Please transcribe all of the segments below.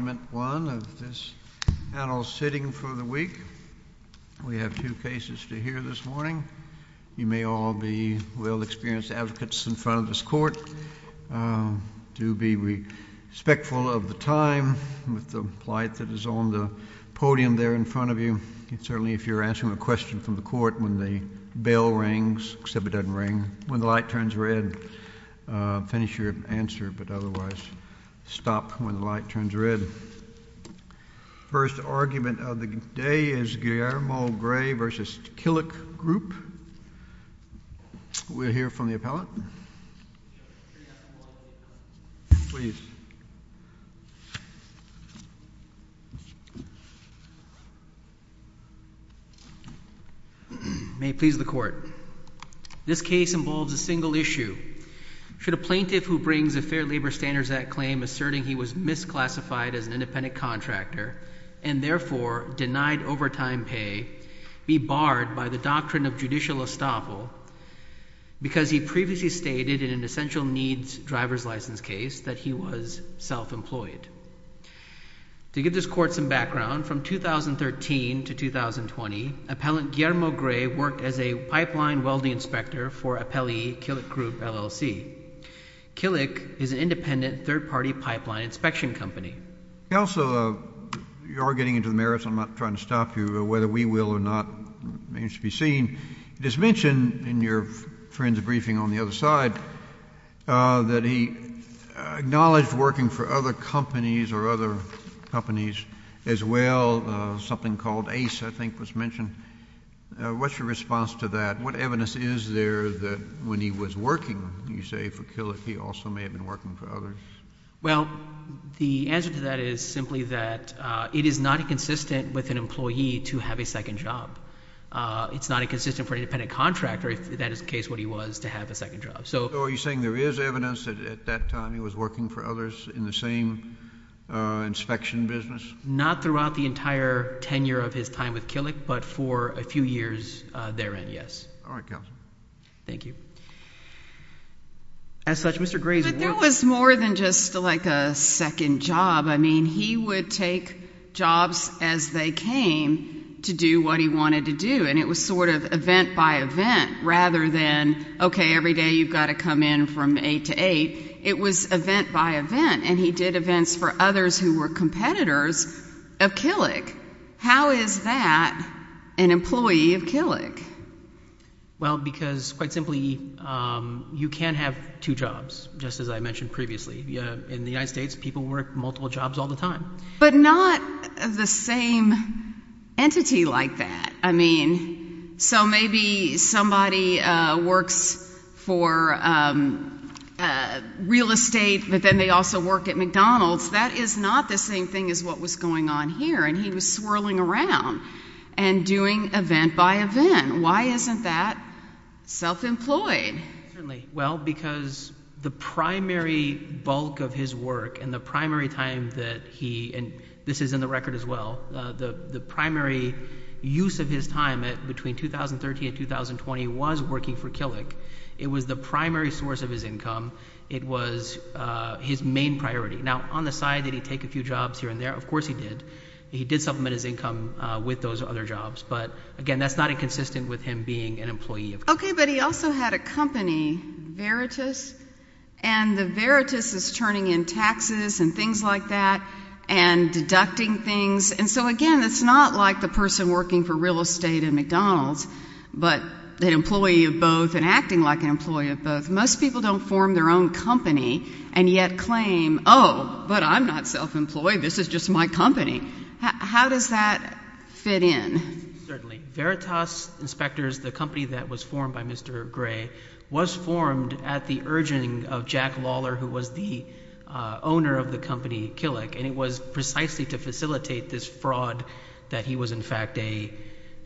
of this panel sitting for the week. We have two cases to hear this morning. You may all be well-experienced advocates in front of this court. Do be respectful of the time with the plight that is on the podium there in front of you. Certainly if you're answering a question from the court when the bell rings, except it doesn't ring, when the light turns red, finish your answer, but otherwise stop when the light turns red. First argument of the day is Guillermo Gray v. Killick Group. We'll hear from the appellate. May it please the Court. This case involves a single issue. Should a plaintiff who brings a Fair Labor Standards Act claim asserting he was misclassified as an independent contractor and therefore denied overtime pay be barred by the doctrine of judicial estoppel because he previously stated in an essential needs driver's license case that he was self-employed? To give this Court some background, from 2013 to 2020, appellant Guillermo Gray worked as a pipeline welding inspector for appellee Killick Group LLC. Killick is an independent third-party pipeline inspection company. Also, you are getting into the merits. I'm not trying to stop you. Whether we will or not, it remains to be seen. It is mentioned in your friend's briefing on the other side that he acknowledged working for other companies or other companies as well. Something called Ace, I think, was mentioned. What's your response to that? What evidence is there that when he was working, you say, for Killick, he also may have been working for others? Well, the answer to that is simply that it is not inconsistent with an employee to have a second job. It's not inconsistent for an independent contractor, if that is the case, what he was, to have a second job. So are you saying there is evidence that at that time he was working for others in the same inspection business? Not throughout the entire tenure of his time with Killick, but for a few years therein, yes. All right, counsel. Thank you. As such, Mr. Gray's words— I mean, he would take jobs as they came to do what he wanted to do, and it was sort of event by event, rather than, okay, every day you've got to come in from 8 to 8. It was event by event, and he did events for others who were competitors of Killick. How is that an employee of Killick? Well, because quite simply, you can't have two jobs, just as I mentioned previously. In the United States, people work multiple jobs all the time. But not the same entity like that. I mean, so maybe somebody works for real estate, but then they also work at McDonald's. That is not the same thing as what was going on here, and he was swirling around and doing event by event. Why isn't that self-employed? Certainly. Well, because the primary bulk of his work and the primary time that he—and this is in the record as well—the primary use of his time between 2013 and 2020 was working for Killick. It was the primary source of his income. It was his main priority. Now, on the side, did he take a few jobs here and there? Of course he did. He did supplement his income with those other jobs, but again, that's not inconsistent with him being an employee of Killick. Okay, but he also had a company, Veritas, and the Veritas is turning in taxes and things like that and deducting things. And so again, it's not like the person working for real estate at McDonald's, but an employee of both and acting like an employee of both. Most people don't form their own company and yet claim, oh, but I'm not self-employed. This is just my company. How does that fit in? Certainly. Veritas Inspectors, the company that was formed by Mr. Gray, was formed at the urging of Jack Lawler, who was the owner of the company, Killick, and it was precisely to facilitate this fraud that he was, in fact, a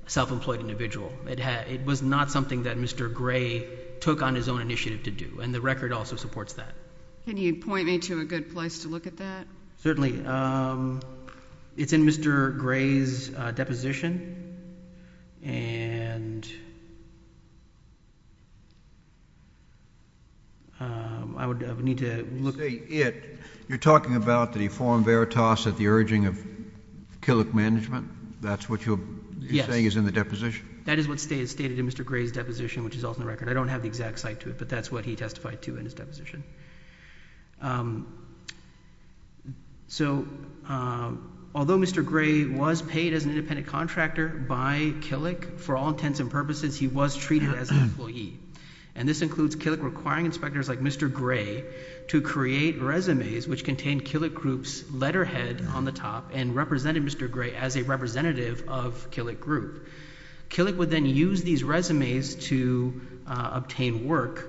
self-employed individual. It was not something that Mr. Gray took on his own initiative to do, and the record also supports that. Can you point me to a good place to look at that? Certainly. It's in Mr. Gray's deposition, and I would need to look at it. You're talking about that he formed Veritas at the urging of Killick Management? That's what you're saying is in the deposition? That is what is stated in Mr. Gray's deposition, which is also in the record. I don't have the exact site to it, but that's what he testified to in his deposition. Although Mr. Gray was paid as an independent contractor by Killick, for all intents and purposes, he was treated as an employee, and this includes Killick requiring inspectors like Mr. Gray to create resumes which contained Killick Group's letterhead on the top and represented Mr. Gray as a representative of Killick Group. Killick would then use these resumes to obtain work,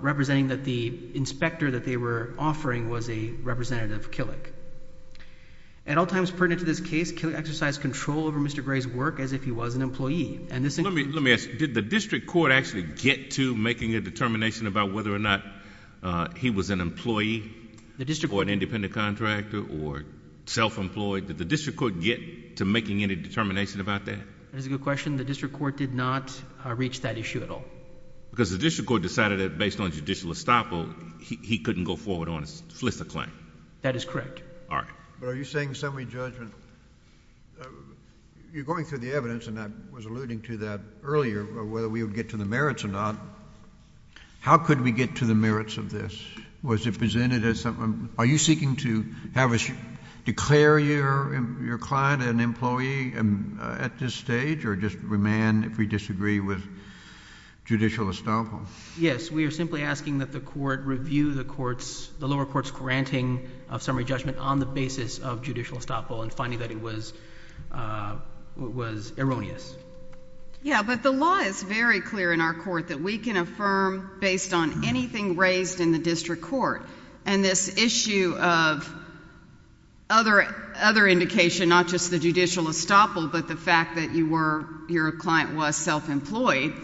representing that the inspector that they were offering was a representative of Killick. At all times pertinent to this case, Killick exercised control over Mr. Gray's work as if he was an employee, and this includes... Let me ask, did the district court actually get to making a determination about whether or not he was an employee or an independent contractor or self-employed? Did the district court get to making any determination about that? That is a good question. The district court did not reach that issue at all. Because the district court decided that based on judicial estoppel, he couldn't go forward on a FLISA claim. That is correct. All right. But are you saying summary judgment... you're going through the evidence, and I was alluding to that earlier, whether we would get to the merits or not. How could we get to the merits of this? Was it presented as something... are you seeking to have us declare your client an employee at this stage, or just remand if we disagree with judicial estoppel? Yes. We are simply asking that the Court review the lower court's granting of summary judgment on the basis of judicial estoppel and finding that it was erroneous. Yes, but the law is very clear in our court that we can affirm based on anything raised in the district court. And this issue of other indication, not just the judicial estoppel, but the fact that your client was self-employed,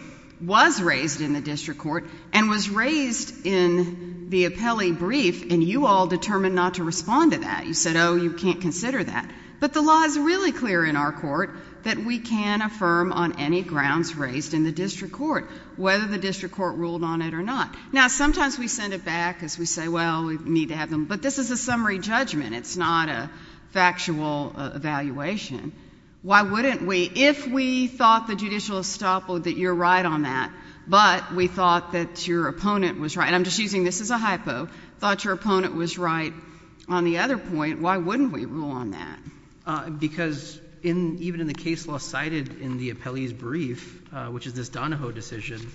was raised in the district court and was raised in the appellee brief, and you all determined not to respond to that. You said, oh, you can't consider that. But the law is really clear in our court that we can affirm on any grounds raised in the district court, whether the district court ruled on it or not. Now, sometimes we send it back as we say, well, we need to have them... but this is a summary judgment. It's not a factual evaluation. Why wouldn't we? If we thought the judicial estoppel, that you're right on that, but we thought that your opponent was right... I'm just using this as a hypo... thought your opponent was right on the other point, why wouldn't we rule on that? Because even in the case law cited in the appellee's brief, which is this Donahoe decision,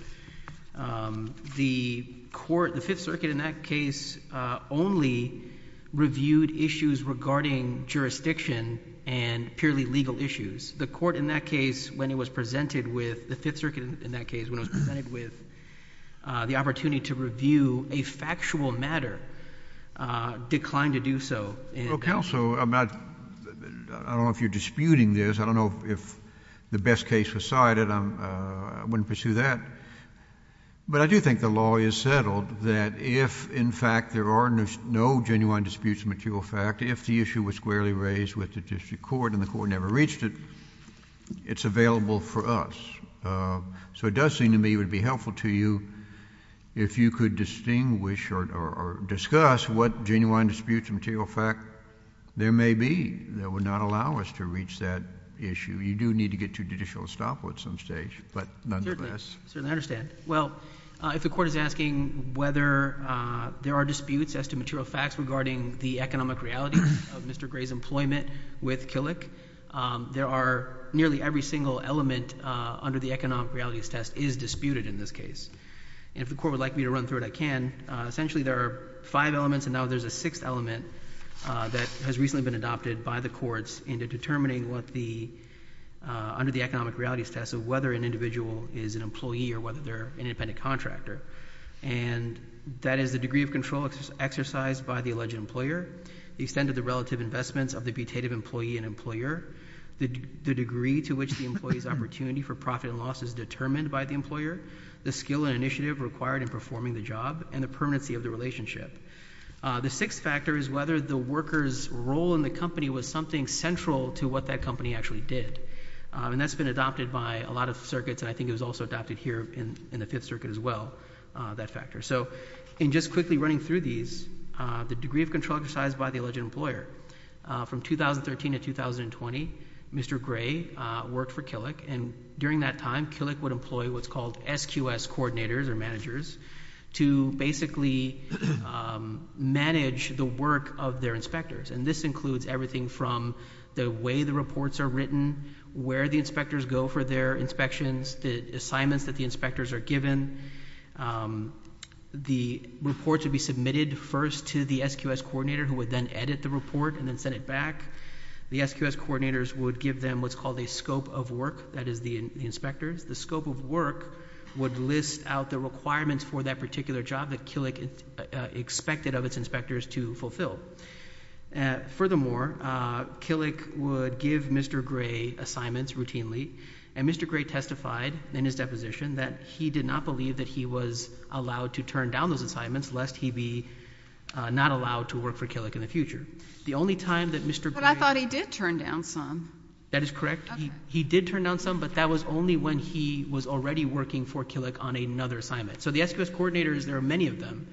the court, the Fifth Circuit in that case, only reviewed issues regarding jurisdiction and purely legal issues. The court in that case, when it was presented with, the Fifth Circuit in that case, when it was presented with the opportunity to review a factual matter, declined to do so. Well, Counsel, I'm not... I don't know if you're disputing this. I don't know if the best case was cited. I wouldn't pursue that. But I do think the law is settled that if in fact there are no genuine disputes of material fact, if the issue was squarely raised with the district court and the court never reached it, it's available for us. So it does seem to me it would be helpful to you if you could distinguish or discuss what genuine disputes of material fact there may be that would not allow us to reach that issue. You do need to get to judicial estoppel at some stage, but nonetheless... Certainly. I certainly understand. Well, if the Court is asking whether there are disputes as to material facts regarding the economic reality of Mr. Gray's employment with Killick, there are nearly every single element under the economic realities test is disputed in this case. And if the Court would like me to run through it, I can. Essentially there are five elements and now there's a sixth element that has recently been adopted by the courts into determining what the... under the economic realities test of whether an individual is an employee or whether they're an independent contractor. And that is the degree of control exercised by the alleged employer, the extent of the relative investments of the deputative employee and employer, the degree to which the employee's opportunity for profit and loss is determined by the employer, the skill and initiative required in performing the job, and the permanency of the relationship. The sixth factor is whether the worker's role in the company was something central to what that company actually did. And that's been adopted by a lot of circuits and I think it was also adopted here in the Fifth Circuit as well, that factor. So in just quickly running through these, the degree of control exercised by the alleged employer. From 2013 to 2020, Mr. Gray worked for Killick and during that time, Killick would employ what's called SQS coordinators or managers to basically manage the work of their inspectors. And this includes everything from the way the reports are written, where the inspectors go for their inspections, the assignments that the inspectors are given. The reports would be submitted first to the SQS coordinator who would then edit the report and then send it back. The SQS coordinators would give them what's called a scope of work, that is the inspectors. The scope of work would list out the requirements for that particular job that Killick expected of its inspectors to fulfill. Furthermore, Killick would give Mr. Gray assignments routinely. And Mr. Gray testified in his deposition that he did not believe that he was allowed to turn down those assignments lest he be not allowed to work for Killick in the future. The only time that Mr. Gray... He did turn down some, but that was only when he was already working for Killick on another assignment. So the SQS coordinators, there are many of them.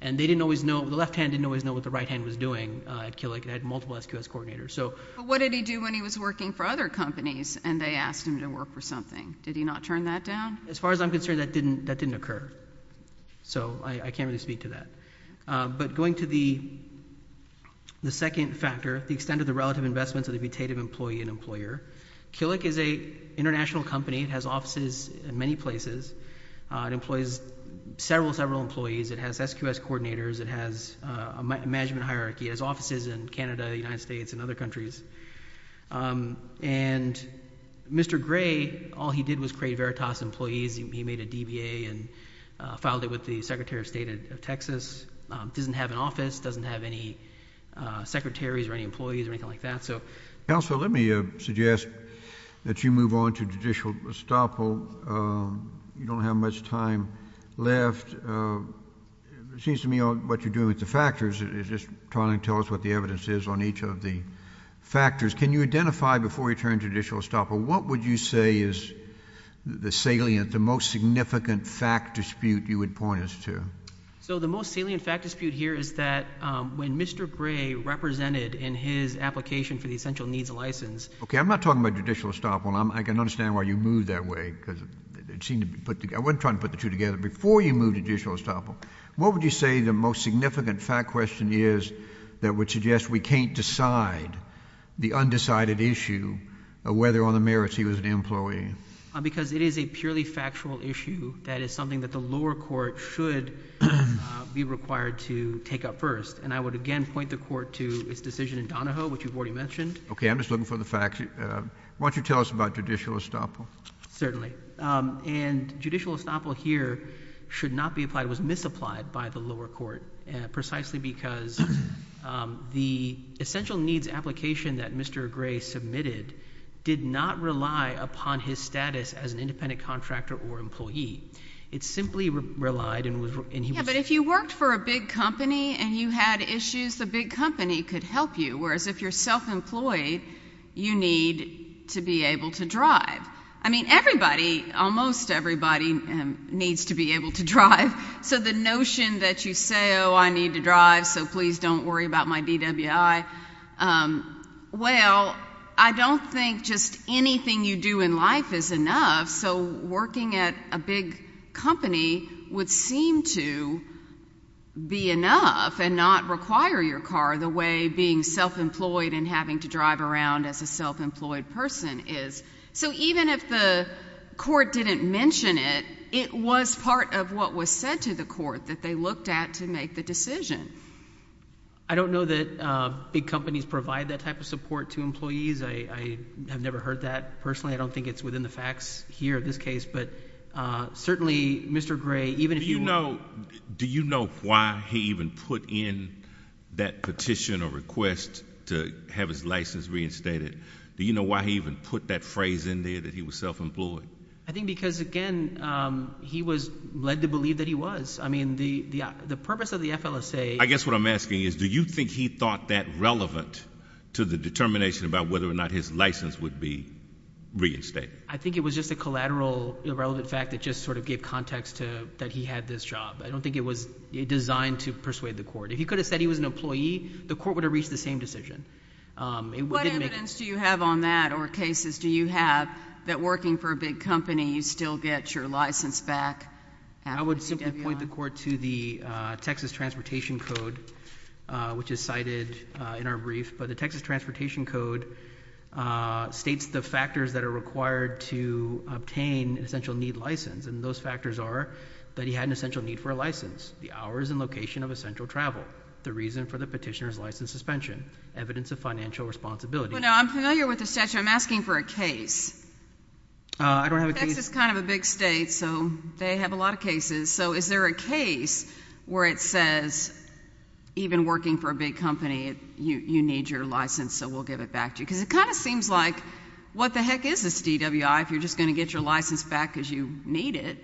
And they didn't always know, the left hand didn't always know what the right hand was doing at Killick. It had multiple SQS coordinators. But what did he do when he was working for other companies and they asked him to work for something? Did he not turn that down? As far as I'm concerned, that didn't occur. So I can't really speak to that. But going to the second factor, the extent of the relative investments of the putative employee and employer. Killick is an international company. It has offices in many places. It employs several, several employees. It has SQS coordinators. It has a management hierarchy. It has offices in Canada, the United States, and other countries. And Mr. Gray, all he did was create Veritas employees. He made a DBA and filed it with the Secretary of State of Texas. Doesn't have an office, doesn't have any secretaries or any employees or anything like that. Counsel, let me suggest that you move on to judicial estoppel. You don't have much time left. It seems to me what you're doing with the factors is just trying to tell us what the evidence is on each of the factors. Can you identify before you turn to judicial estoppel, what would you say is the salient, the most significant fact dispute you would point us to? So the most salient fact dispute here is that when Mr. Gray represented in his application for the essential needs license Okay, I'm not talking about judicial estoppel. I can understand why you moved that way, because it seemed to be put together. I wasn't trying to put the two together. Before you moved to judicial estoppel, what would you say the most significant fact question is that would suggest we can't decide the undecided issue of whether on the merits he was an employee? Because it is a purely factual issue that is something that the lower court should be required to take up first. And I would again point the court to its decision in Donahoe, which you've already mentioned. Okay, I'm just looking for the facts. Why don't you tell us about judicial estoppel? Certainly. And judicial estoppel here should not be applied, was misapplied by the lower court, precisely because the essential needs application that Mr. Gray submitted did not rely upon his status as an independent contractor or employee. It simply relied and he was Yeah, but if you worked for a big company and you had issues, the big company could help you. Whereas if you're self-employed, you need to be able to drive. I mean, everybody, almost everybody needs to be able to drive. So the notion that you say, oh, I need to Anything you do in life is enough. So working at a big company would seem to be enough and not require your car the way being self-employed and having to drive around as a self-employed person is. So even if the court didn't mention it, it was part of what was said to the court that they looked at to make the decision. I don't know that big companies provide that type of support to employees. I have never heard that personally. I don't think it's within the facts here in this case, but certainly Mr. Gray, even if you Do you know, do you know why he even put in that petition or request to have his license reinstated? Do you know why he even put that phrase in there that he was self-employed? I think because again, he was led to believe that he was. I mean, the purpose of the FLSA I guess what I'm asking is, do you think he thought that relevant to the determination about whether or not his license would be reinstated? I think it was just a collateral, irrelevant fact that just sort of gave context to that he had this job. I don't think it was designed to persuade the court. If he could have said he was an employee, the court would have reached the same decision. What evidence do you have on that or cases do you have that working for a big company you still get your license back? I would simply point the court to the Texas Transportation Code, which is cited in our code, states the factors that are required to obtain an essential need license. And those factors are that he had an essential need for a license, the hours and location of essential travel, the reason for the petitioner's license suspension, evidence of financial responsibility. I'm familiar with the statute. I'm asking for a case. I don't have a case. Texas is kind of a big state, so they have a lot of cases. So is there a case where it seems like what the heck is this DWI if you're just going to get your license back because you need it?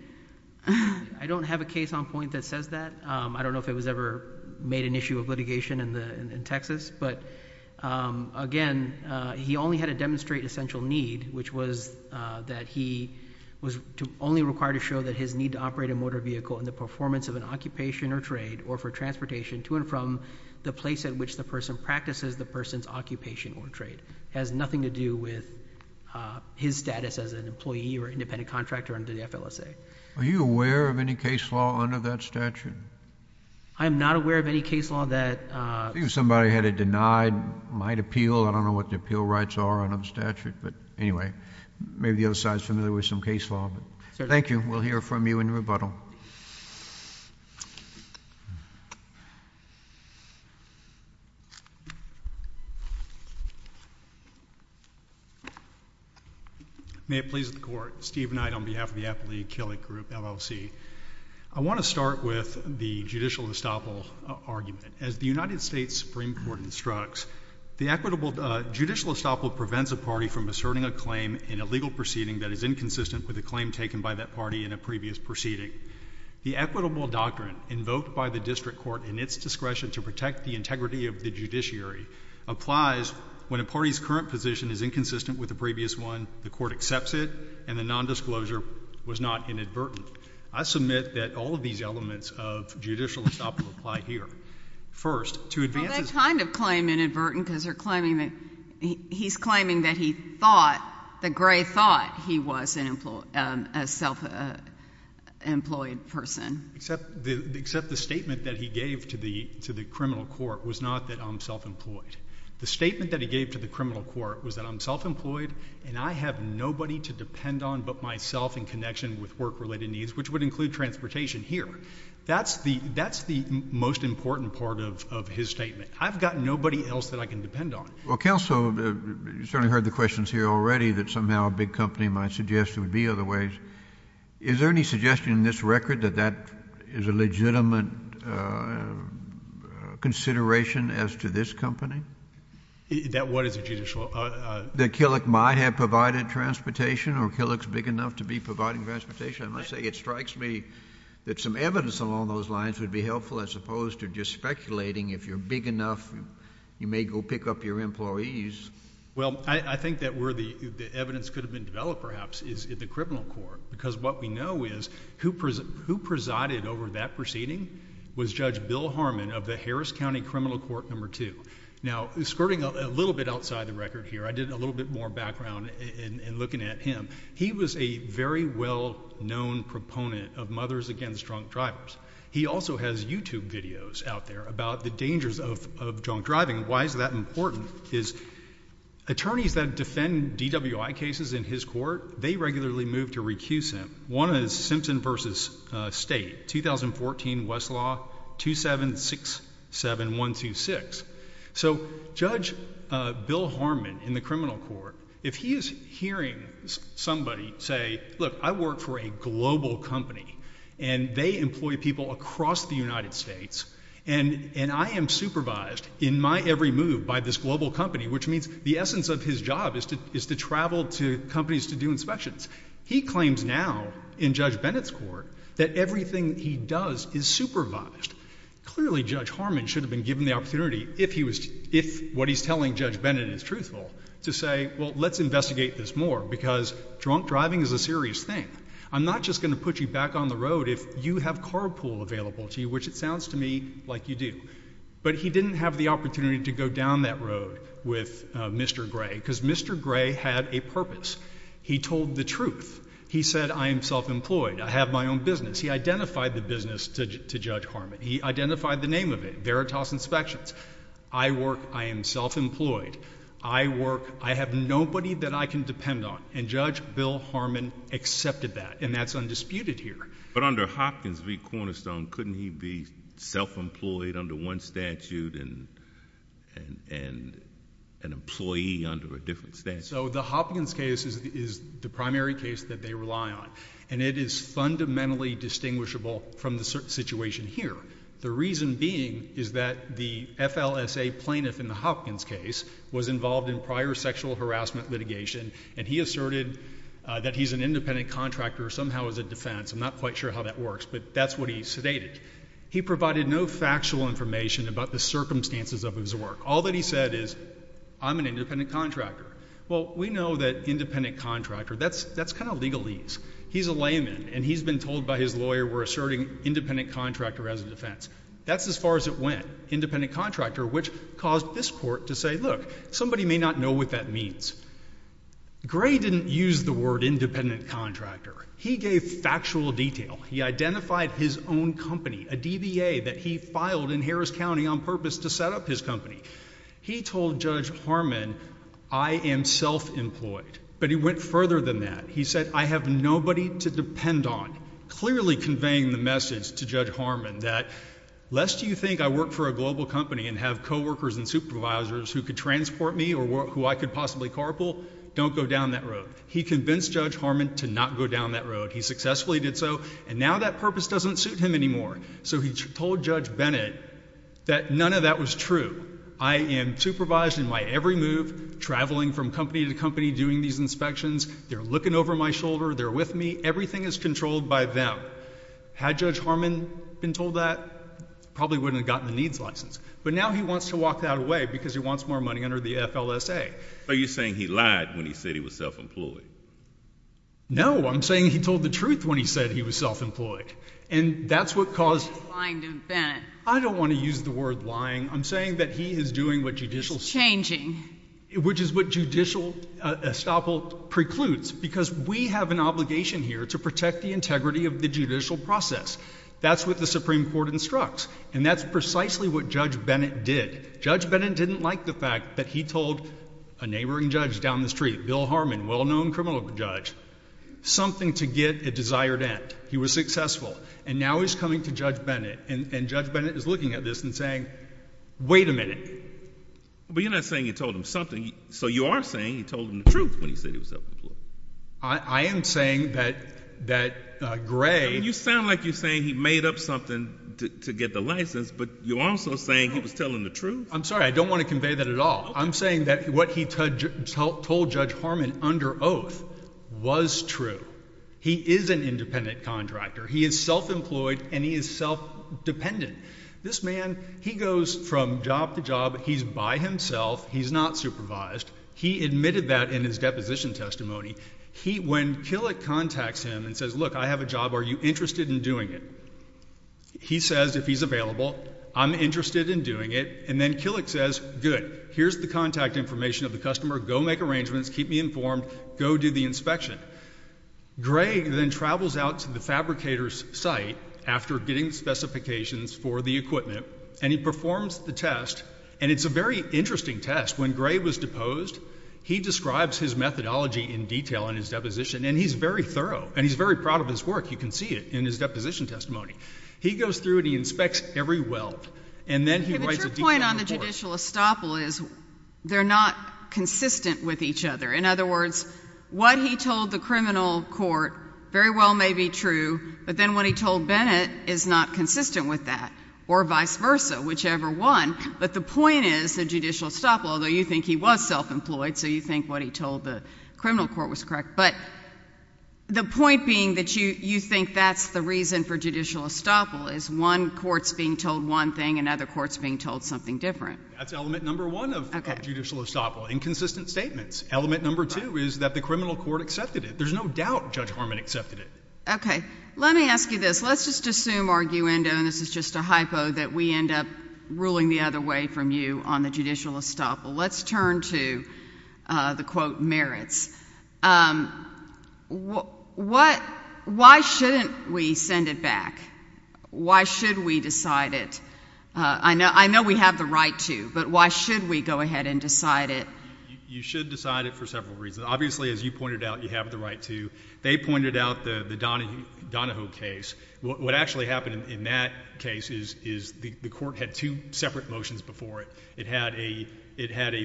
I don't have a case on point that says that. I don't know if it was ever made an issue of litigation in Texas. But again, he only had to demonstrate an essential need, which was that he was only required to show that his need to operate a motor vehicle and the performance of an occupation or trade or for transportation to and from the place at which the person practices the person's occupation or trade. It has nothing to do with his status as an employee or independent contractor under the FLSA. Are you aware of any case law under that statute? I am not aware of any case law that... I think if somebody had it denied, it might appeal. I don't know what the appeal rights are under the statute. But anyway, maybe the other side is familiar with some case law. Thank you. We'll hear from you in rebuttal. May it please the Court. Steve Knight on behalf of the Appellee Acrylic Group, LLC. I want to start with the judicial estoppel argument. As the United States Supreme Court instructs, the equitable judicial estoppel prevents a party from asserting a claim in a legal proceeding that is inconsistent with a claim taken by that party in a previous proceeding. The equitable doctrine invoked by the district court in its discretion to protect the integrity of the judiciary applies when a party's current position is inconsistent with a previous one, the court accepts it, and the nondisclosure was not inadvertent. I submit that all of these elements of judicial estoppel apply here. First... Well, they kind of claim inadvertent because they're claiming that... he's claiming that he thought, that Gray thought he was a self-employed person. Except the statement that he gave to the criminal court was not that I'm self-employed. The statement that he gave to the criminal court was that I'm self-employed and I have nobody to depend on but myself in connection with work-related needs, which would include transportation here. That's the most important part of his statement. I've got nobody else that I can depend on. Well, counsel, you've certainly heard the questions here already that somehow a big company might suggest there would be other ways. Is there any suggestion in this record that that is a legitimate consideration as to this company? That what is a judicial... That Killick might have provided transportation or Killick's big enough to be providing transportation? I must say, it strikes me that some evidence along those lines would be helpful as opposed to just speculating. If you're big enough, you may go pick up your employees. Well, I think that where the evidence could have been developed perhaps is in the criminal court because what we know is who presided over that proceeding was Judge Bill Harmon of the Harris County Criminal Court No. 2. Now, skirting a little bit outside the record here, I did a little bit more background in looking at him. He was a very well-known proponent of mothers against drunk drivers. He also has YouTube videos out there about the dangers of drunk driving. Why is that important is attorneys that defend DWI cases in his court, they regularly move to recuse him. One is Simpson v. State, 2014 Westlaw 2767126. So Judge Bill Harmon in the criminal court, if he is hearing somebody say, look, I work for a global company and they employ people across the United States and I am supervised in my every move by this global company, which means the essence of his job is to travel to companies to do inspections. He claims now in Judge Bennett's court that everything he does is supervised. Clearly, Judge Harmon should have been given the opportunity, if what he's telling Judge Bennett is truthful, to say, well, let's investigate this more because drunk driving is a serious thing. I'm not just going to put you back on the road if you have carpool available to you, which it sounds to me like you do. But he didn't have the opportunity to go down that road with Mr. Gray because Mr. Gray had a purpose. He told the truth. He said, I am self-employed. I have my own business. He identified the business to Judge Harmon. He identified the name of it, Veritas Inspections. I work, I am self-employed. I work, I have nobody that I can depend on. And Judge Bill Harmon accepted that. And that's undisputed here. But under Hopkins v. Cornerstone, couldn't he be self-employed under one statute and an employee under a different statute? So the Hopkins case is the primary case that they rely on. And it is fundamentally distinguishable from the situation here. The reason being is that the FLSA plaintiff in the Hopkins case was involved in prior sexual harassment litigation. And he asserted that he's an independent contractor somehow as a defense. I'm not quite sure how that works. But that's what he sedated. He provided no factual information about the circumstances of his work. All that he said is, I'm an independent contractor. Well, we know that independent contractor, that's kind of legalese. He's a layman. And he's been told by his lawyer, we're asserting independent contractor as a defense. That's as far as it went. Independent contractor, which caused this court to say, look, somebody may not know what that means. Gray didn't use the word independent contractor. He gave factual detail. He identified his own company, a DBA that he filed in Harris County on purpose to set up his company. He told Judge Harmon, I am self-employed. But he went further than that. He said, I have nobody to depend on. Clearly conveying the message to Judge Harmon that, lest you think I work for a global company and have co-workers and supervisors who could transport me or who I could possibly carpool, don't go down that road. He convinced Judge Harmon to not go down that road. He successfully did so. And now that purpose doesn't suit him anymore. So he told Judge Bennett that none of that was true. I am supervised in my every move, traveling from company to company, doing these inspections. They're looking over my shoulder. They're with me. Everything is by them. Had Judge Harmon been told that, probably wouldn't have gotten the needs license. But now he wants to walk that away because he wants more money under the FLSA. Are you saying he lied when he said he was self-employed? No, I'm saying he told the truth when he said he was self-employed. And that's what caused him to lie to Bennett. I don't want to use the word lying. I'm saying that he is doing what judicial changing, which is what judicial estoppel precludes, because we have an obligation here to protect the integrity of the judicial process. That's what the Supreme Court instructs. And that's precisely what Judge Bennett did. Judge Bennett didn't like the fact that he told a neighboring judge down the street, Bill Harmon, well-known criminal judge, something to get a desired end. He was successful. And now he's coming to Judge Bennett, and Judge Bennett is looking at this and saying, wait a minute. But you're not saying you told him something. So you are saying you told him the truth when he said he was self-employed. I am saying that Gray— You sound like you're saying he made up something to get the license, but you're also saying he was telling the truth. I'm sorry. I don't want to convey that at all. I'm saying that what he told Judge Harmon under oath was true. He is an independent contractor. He is self-employed, and he is self-dependent. This man, he goes from job to job. He's by himself. He's not supervised. He admitted that in his deposition testimony. When Killick contacts him and says, look, I have a job. Are you interested in doing it? He says, if he's available, I'm interested in doing it. And then Killick says, good. Here's the contact information of the customer. Go make arrangements. Keep me informed. Go do the inspection. Gray then travels out to the fabricator's site after getting the specifications for the equipment, and he performs the test. And it's a very interesting test. When Gray was posed, he describes his methodology in detail in his deposition, and he's very thorough, and he's very proud of his work. You can see it in his deposition testimony. He goes through and he inspects every weld, and then he writes a detail report. But your point on the judicial estoppel is they're not consistent with each other. In other words, what he told the criminal court very well may be true, but then what he told Bennett is not consistent with that, or vice versa, whichever one. But the point is the court is not self-employed, so you think what he told the criminal court was correct. But the point being that you think that's the reason for judicial estoppel is one court's being told one thing and other court's being told something different. That's element number one of judicial estoppel, inconsistent statements. Element number two is that the criminal court accepted it. There's no doubt Judge Harmon accepted it. Okay. Let me ask you this. Let's just assume, arguendo, and this is just a hypo, that we return to the, quote, merits. Why shouldn't we send it back? Why should we decide it? I know we have the right to, but why should we go ahead and decide it? You should decide it for several reasons. Obviously, as you pointed out, you have the right to. They pointed out the Donahoe case. What actually happened in that case is the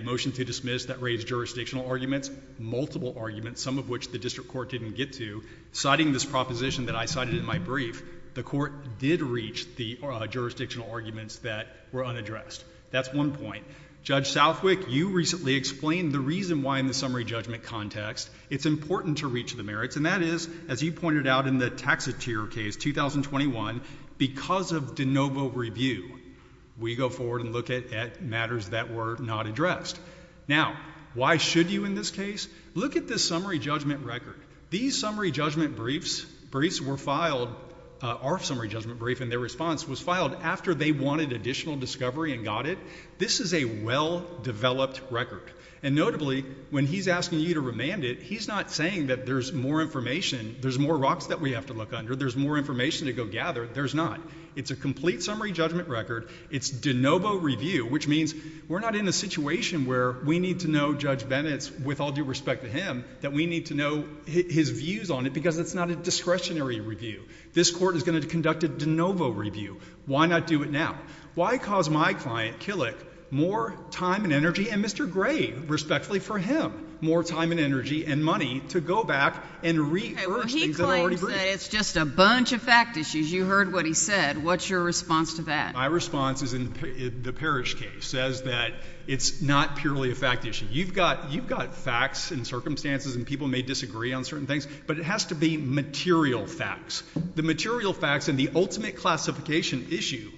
motion to dismiss that raised jurisdictional arguments, multiple arguments, some of which the district court didn't get to. Citing this proposition that I cited in my brief, the court did reach the jurisdictional arguments that were unaddressed. That's one point. Judge Southwick, you recently explained the reason why in the summary judgment context it's important to reach the merits, and that is, as you pointed out in the Taxotere case 2021, because of de novo review, we go forward and look at matters that were not addressed. Now, why should you in this case? Look at this summary judgment record. These summary judgment briefs, briefs were filed, our summary judgment brief and their response was filed after they wanted additional discovery and got it. This is a well-developed record. And notably, when he's asking you to remand it, he's not saying that there's more information, there's more rocks that we have to look under, there's more information to go gather. There's not. It's a complete summary judgment record. It's de novo review, which means we're not in a situation where we need to know Judge Bennett's, with all due respect to him, that we need to know his views on it because it's not a discretionary review. This court is going to conduct a de novo review. Why not do it now? Why cause my client, Killick, more time and energy, and Mr. Gray, respectfully for him, more time and energy and money to go back and re-urge things that are already briefed. Okay, well he claims that it's just a bunch of fact issues. You heard what he said. What's your response to that? My response is in the Parrish case, says that it's not purely a fact issue. You've got facts and circumstances and people may disagree on certain things, but it has to be material facts. The material facts and the ultimate classification issue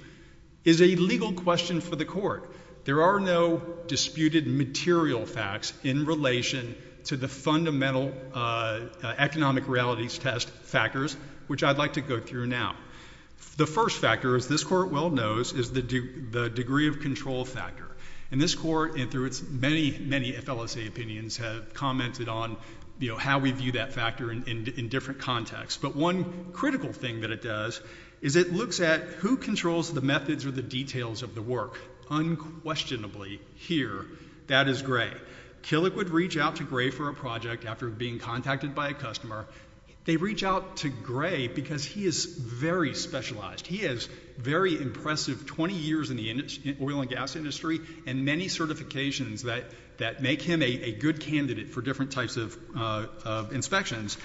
is a legal question for the court. There are no disputed material facts in relation to the fundamental economic realities test factors, which I'd like to go through now. The first factor, as this court well knows, is the degree of control factor. And this court, and through its many, many FLSA opinions, have commented on, you know, how we view that factor in different contexts. But one critical thing that it does is it looks at who controls the methods or the details of the work. Unquestionably, here, that is Gray. Killick would reach out to Gray for a project after being contacted by a customer. They reach out to Gray because he is very specialized. He has very impressive 20 years in the oil and gas industry and many certifications that make him a good candidate for different types of inspections.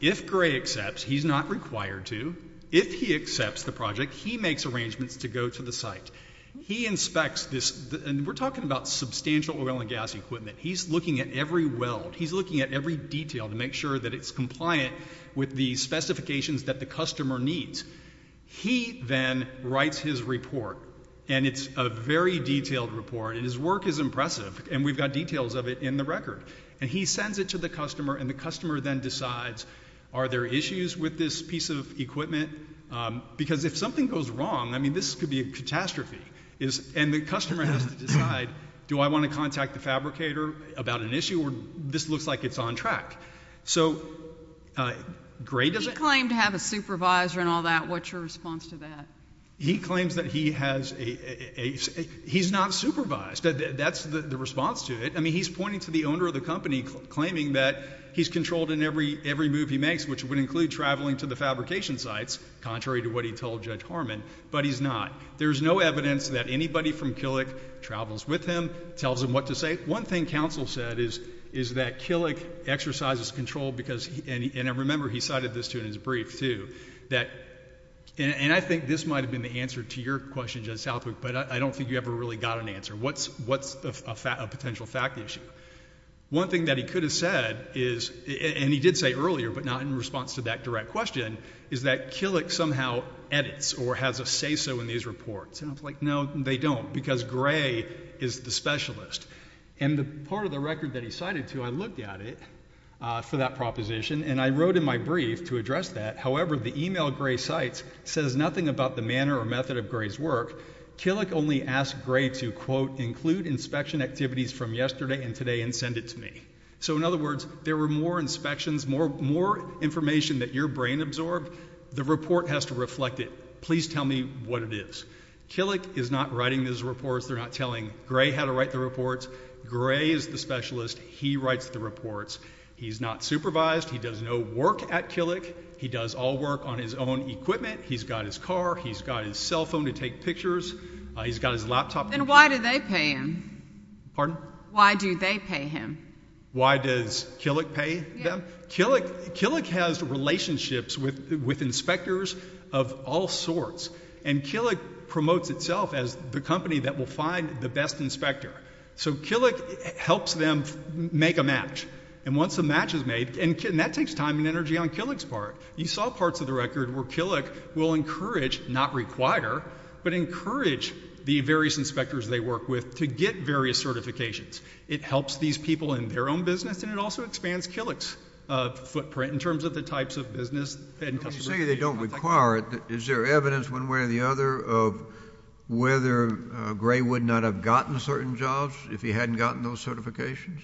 If Gray accepts, he's not required to. If he accepts the project, he makes arrangements to go to the site. He inspects this, and we're talking about substantial oil and gas equipment. He's looking at every weld. He's looking at every detail to make sure that it's compliant with the specifications that the customer needs. He then writes his report, and it's a very detailed report, and his work is impressive, and we've got details of it in the record. He sends it to the customer, and the customer then decides, are there issues with this piece of equipment? Because if something goes wrong, I mean, this could be a catastrophe, and the customer has to decide, do I want to contact the fabricator about an issue, or this looks like it's on track. So Gray doesn't- He claimed to have a supervisor and all that. What's your response to that? He claims that he has a... He's not supervised. That's the response to it. I mean, he's pointing to the owner of the company, claiming that he's controlled in every move he makes, which would include traveling to the fabrication sites, contrary to what he told Judge Harmon, but he's not. There's no evidence that anybody from Killick travels with him, tells him what to say. One thing counsel said is that Killick exercises control because... And remember, he cited this too in his brief, too. And I think this might have been the answer to your question, Judge Southwick, but I don't think you ever really got an answer. What's a potential fact issue? One thing that he could have said is, and he did say earlier, but not in response to that direct question, is that Killick somehow edits, or has a say-so in these reports. And I was like, no, they don't, because Gray is the specialist. And the part of the record that he cited, too, I looked at it for that proposition, and I wrote in my brief to address that. However, the email Gray cites says nothing about the manner or method of Gray's work. Killick only asked Gray to, quote, include inspection activities from yesterday and today and send it to me. So, in other words, there were more inspections, more information that your brain absorbed. The report has to reflect it. Please tell me what it is. Killick is not writing those reports. They're not telling Gray how to write the reports. Gray is the specialist. He writes the reports. He's not supervised. He does no work at Killick. He does all work on his own equipment. He's got his car. He's got his cell phone to take pictures. He's got his laptop... Then why do they pay him? Pardon? Why do they pay him? Why does Killick pay them? Killick has relationships with inspectors of all sorts. And Killick promotes itself as the company that will find the best inspector. So, Killick helps them make a match. And once a match is made, and that takes time and energy on Killick's part. You saw parts of the record where Killick will encourage, not require, but encourage the various inspectors they work with to get various certifications. It helps these people in their own business, and it also expands Killick's footprint in terms of the types of business and customers... When you say they don't require it, is there evidence one way or the other of whether Gray would not have gotten certain jobs if he hadn't gotten those certifications?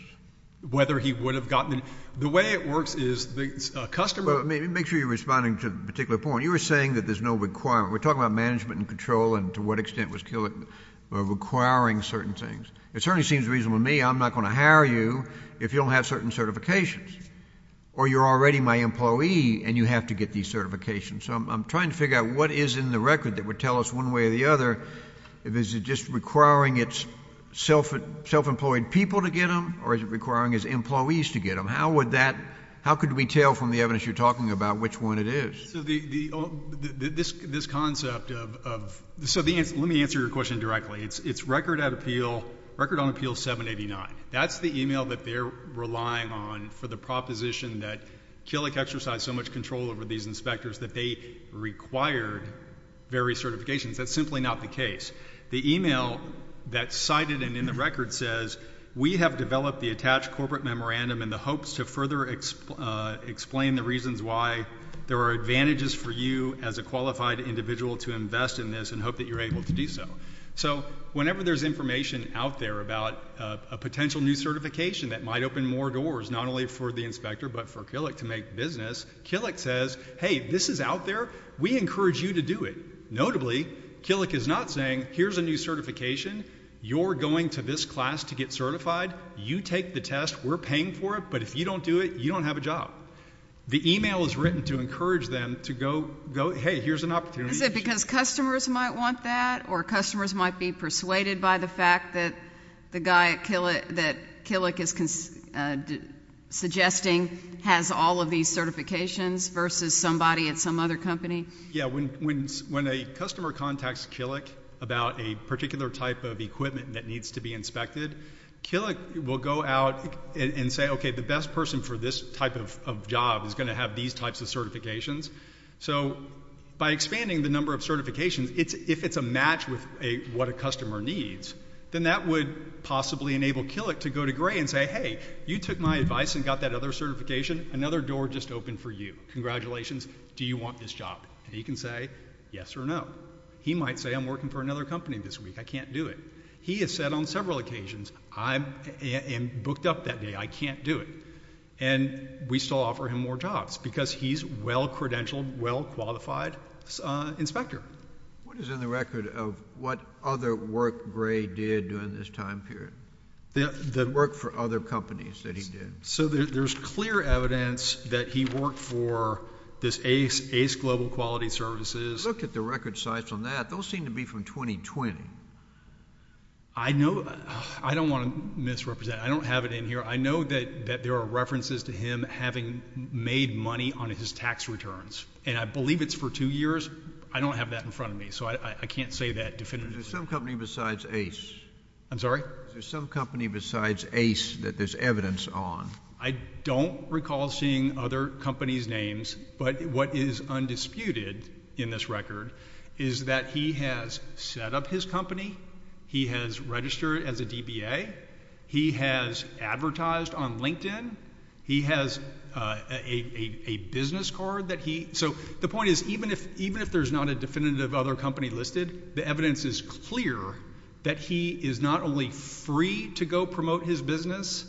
Whether he would have gotten... The way it works is the customer... Well, make sure you're responding to a particular point. You were saying that there's no requirement. We're talking about management and control, and to what extent was Killick requiring certain things. It certainly seems reasonable to me, I'm not going to hire you if you don't have certain certifications. Or you're already my employee, and you have to get these certifications. So I'm trying to figure out what is in the record that would tell us one way or the other if it is just requiring its self-employed people to get them, or is it requiring its employees to get them? How could we tell from the evidence you're talking about which one it is? So this concept of... So let me answer your question directly. It's record on appeal 789. That's the email that they're relying on for the proposition that Killick exercised so much control over these inspectors that they required various certifications. That's simply not the case. The email that's cited and in the record says, we have developed the attached manages for you as a qualified individual to invest in this and hope that you're able to do so. So whenever there's information out there about a potential new certification that might open more doors, not only for the inspector, but for Killick to make business, Killick says, hey, this is out there. We encourage you to do it. Notably, Killick is not saying here's a new certification. You're going to this class to get certified. You take the test. We're paying for it. But if you don't do it, you don't have a job. The email is to go, hey, here's an opportunity. Is it because customers might want that or customers might be persuaded by the fact that the guy that Killick is suggesting has all of these certifications versus somebody at some other company? Yeah. When a customer contacts Killick about a particular type of equipment that needs to be inspected, Killick will go out and say, okay, the best person for this type of job is going to have these types of certifications. So by expanding the number of certifications, if it's a match with what a customer needs, then that would possibly enable Killick to go to Gray and say, hey, you took my advice and got that other certification. Another door just opened for you. Congratulations. Do you want this job? And he can say yes or no. He might say I'm working for another company this week. I can't do it. He has said on several jobs because he's a well-credentialed, well-qualified inspector. What is in the record of what other work Gray did during this time period? The work for other companies that he did. So there's clear evidence that he worked for this ACE, ACE Global Quality Services. Look at the record size on that. Those seem to be from 2020. I know. I don't want to misrepresent. I don't have it in here. I know that there are references to him having made money on his tax returns. And I believe it's for two years. I don't have that in front of me. So I can't say that definitively. Is there some company besides ACE? I'm sorry? Is there some company besides ACE that there's evidence on? I don't recall seeing other companies' names. But what is undisputed in this record is that he has set up his company. He has registered as a DBA. He has advertised on LinkedIn. He has a business card that he... So the point is, even if there's not a definitive other company listed, the evidence is clear that he is not only free to go promote his business,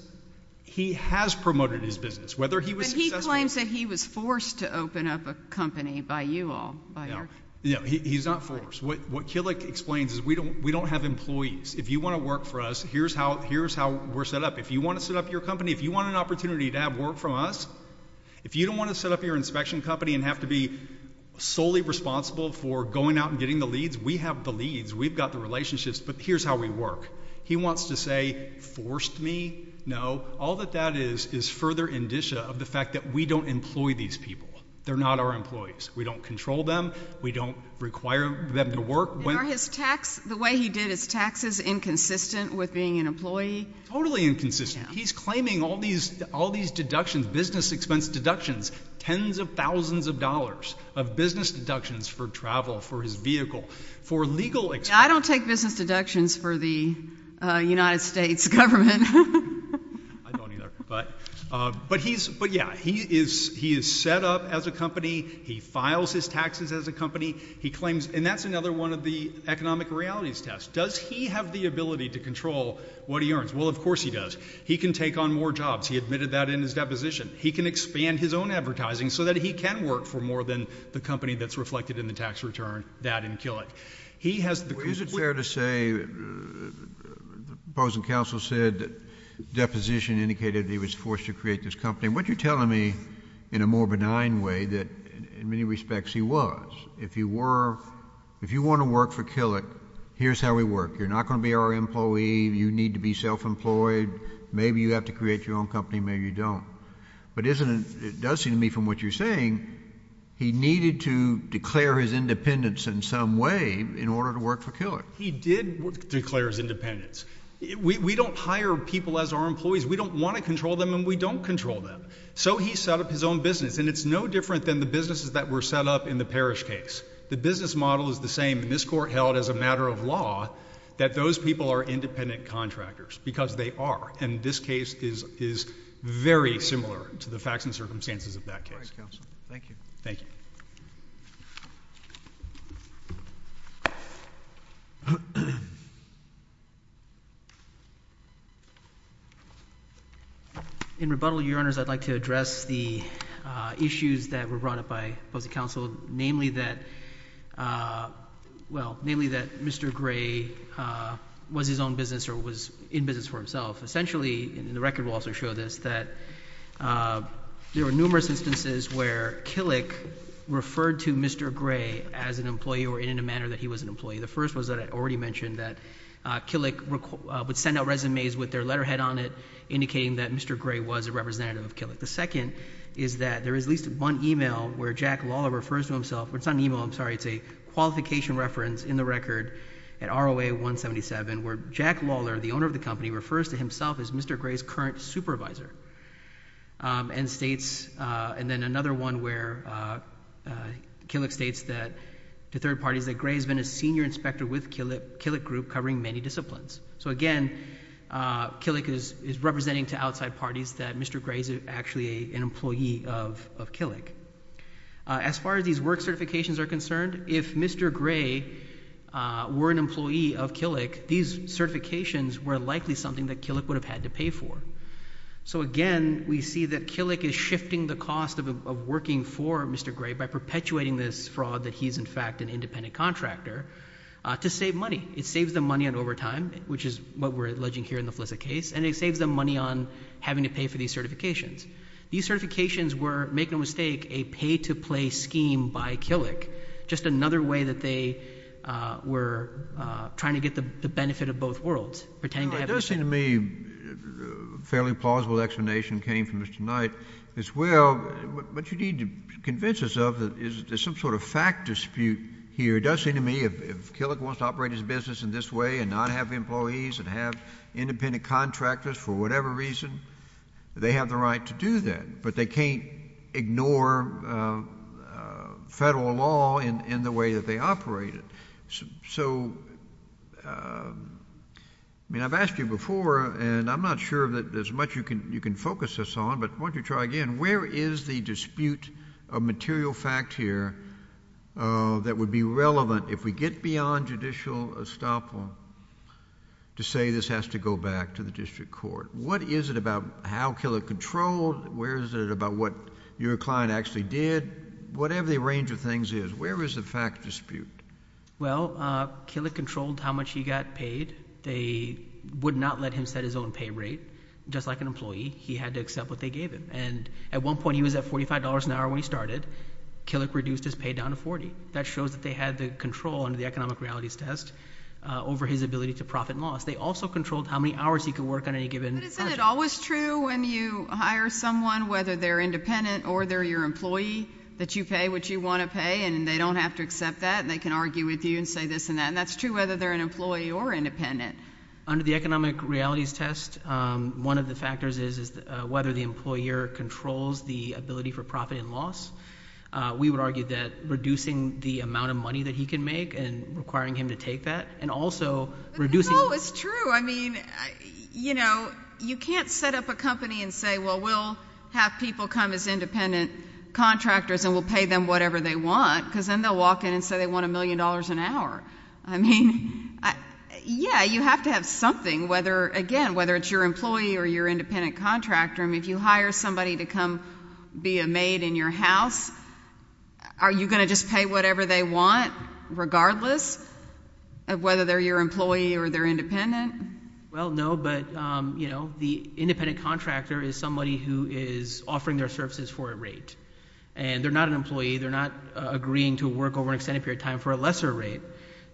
he has promoted his business. Whether he was successful... But he claims that he was forced to open up a company by you all. No. He's not forced. What Kilik explains is we don't have employees. If you want to work for us, here's how we're set up. If you want to set up your company, if you want an opportunity to have work from us, if you don't want to set up your inspection company and have to be solely responsible for going out and getting the leads, we have the leads. We've got the relationships. But here's how we work. He wants to say, forced me? No. All that that is is further indicia of the fact that we don't employ these people. They're not our employees. We don't control them. We don't require them to work. Are his tax... The way he did his taxes inconsistent with being an employee? Totally inconsistent. He's claiming all these deductions, business expense deductions, tens of thousands of dollars of business deductions for travel, for his vehicle, for legal... I don't take business deductions for the United States government. I don't either. But he's, but yeah, he is, he is set up as a company. He files his taxes as a company. He claims, and that's another one of the economic realities test. Does he have the ability to control what he earns? Well, of course he does. He can take on more jobs. He admitted that in his deposition. He can expand his own advertising so that he can work for more than the company that's reflected in the tax return. That and kill it. He has... The opposing counsel said that deposition indicated that he was forced to create this company. What you're telling me in a more benign way that in many respects he was. If you were, if you want to work for Killick, here's how we work. You're not going to be our employee. You need to be self-employed. Maybe you have to create your own company. Maybe you don't. But isn't it, it does seem to me from what you're saying, he needed to declare He did declare his independence. We don't hire people as our employees. We don't want to control them and we don't control them. So he set up his own business and it's no different than the businesses that were set up in the parish case. The business model is the same in this court held as a matter of law that those people are independent contractors because they are. And this case is very similar to the facts and circumstances of that case. Thank you. Thank you. In rebuttal, your honors, I'd like to address the, uh, issues that were brought up by opposing counsel, namely that, uh, well, namely that Mr. Gray, uh, was his own business or was in business for himself. Essentially in the record will also show this, that, uh, there were numerous instances where Killick referred to Mr. Gray as an employee or in a manner that he was an employee. The first was that I already mentioned that, uh, Killick would send out resumes with their letterhead on it, indicating that Mr. Gray was a representative of Killick. The second is that there is at least one email where Jack Lawler refers to himself. It's not an email. I'm sorry. It's a qualification reference in the record at ROA 177 where Jack Lawler, the owner of the company, refers to himself as Mr. Gray's current supervisor. Um, and states, uh, and then another one where, uh, uh, Killick states that to third parties that Gray has been a senior inspector with Killick, Killick Group covering many disciplines. So again, uh, Killick is, is representing to outside parties that Mr. Gray is actually a, an employee of, of Killick. Uh, as far as these work certifications are concerned, if Mr. Gray, uh, were an employee of Killick, these certifications were likely something that Killick would have had to pay for. So again, we see that Killick is shifting the cost of, of working for Mr. Gray by perpetuating this fraud that he's in fact an independent contractor, uh, to save money. It saves them money on overtime, which is what we're alleging here in the Flissett case, and it saves them money on having to pay for these certifications. These certifications were, make no mistake, a pay-to-play scheme by Killick, just another way that they, uh, were, uh, trying to get the, the benefit of both worlds, pretending to have this thing. It does seem to me a fairly plausible explanation came from Mr. Knight as well. What you need to convince us of is that there's some sort of fact dispute here. It does seem to me if, if Killick wants to operate his business in this way and not have employees and have independent contractors for whatever reason, they have the right to do that, but they can't ignore, uh, uh, federal law in, in the way that they operate it. So, uh, I mean, I've asked you before, and I'm not sure that there's much you can, you can focus us on, but why don't you try again. Where is the dispute of material fact here, uh, that would be relevant if we get beyond judicial estoppel to say this has to go back to the district court? What is it about how Killick controlled? Where is it about what your client actually did? Whatever the range of things is, where is the fact dispute? Well, uh, Killick controlled how much he got paid. They would not let him set his own pay rate. Just like an employee, he had to accept what they gave him. And at one point, he was at $45 an hour when he started. Killick reduced his pay down to $40. That shows that they had the control under the economic realities test, uh, over his ability to profit and loss. They also controlled how many hours he could work on any given project. But isn't it always true when you hire someone, whether they're independent or they're your employee, that you pay what you want to pay and they don't have to accept that and they can argue with you and say this and that? And that's true whether they're an employee or independent. Under the economic realities test, um, one of the factors is, is, uh, whether the employer controls the ability for profit and loss. Uh, we would argue that reducing the amount of money that he can make and requiring him to take that and also reducing... No, it's true. I mean, you know, you can't set up a company and say, well, we'll have people come as independent contractors and we'll pay them whatever they want because then they'll walk in and say they want a million dollars an hour. I mean, I, yeah, you have to have something, whether, again, whether it's your employee or your independent contractor. I mean, if you hire somebody to come be a maid in your house, are you going to just pay whatever they want regardless of whether they're your employee or they're independent? Well, no, but, um, you know, the independent contractor is somebody who is offering their an extended period of time for a lesser rate.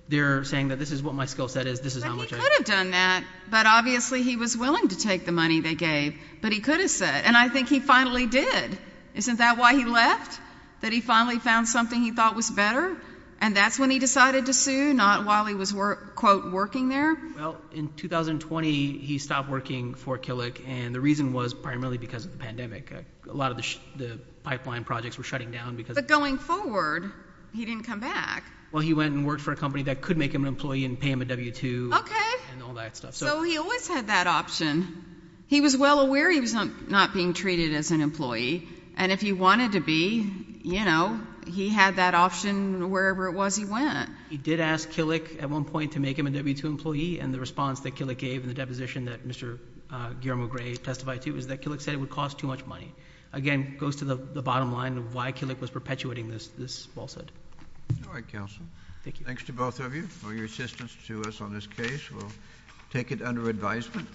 They're saying that this is what my skill set is, this is how much I... But he could have done that, but obviously he was willing to take the money they gave, but he could have said, and I think he finally did. Isn't that why he left? That he finally found something he thought was better? And that's when he decided to sue, not while he was work, quote, working there? Well, in 2020, he stopped working for Killick and the reason was primarily because of the pandemic. A lot of the pipeline projects were shutting down because... But going forward, he didn't come back. Well, he went and worked for a company that could make him an employee and pay him a W-2 and all that stuff. Okay. So he always had that option. He was well aware he was not being treated as an employee and if he wanted to be, you know, he had that option wherever it was he went. He did ask Killick at one point to make him a W-2 employee and the response that Killick gave in the deposition that Mr. Guillermo Gray testified to is that Killick said it would cost too much money. Again, goes to the bottom line of why Killick was perpetuating this falsehood. All right, counsel. Thank you. Thanks to both of you for your assistance to us on this case. We'll take it under advisement.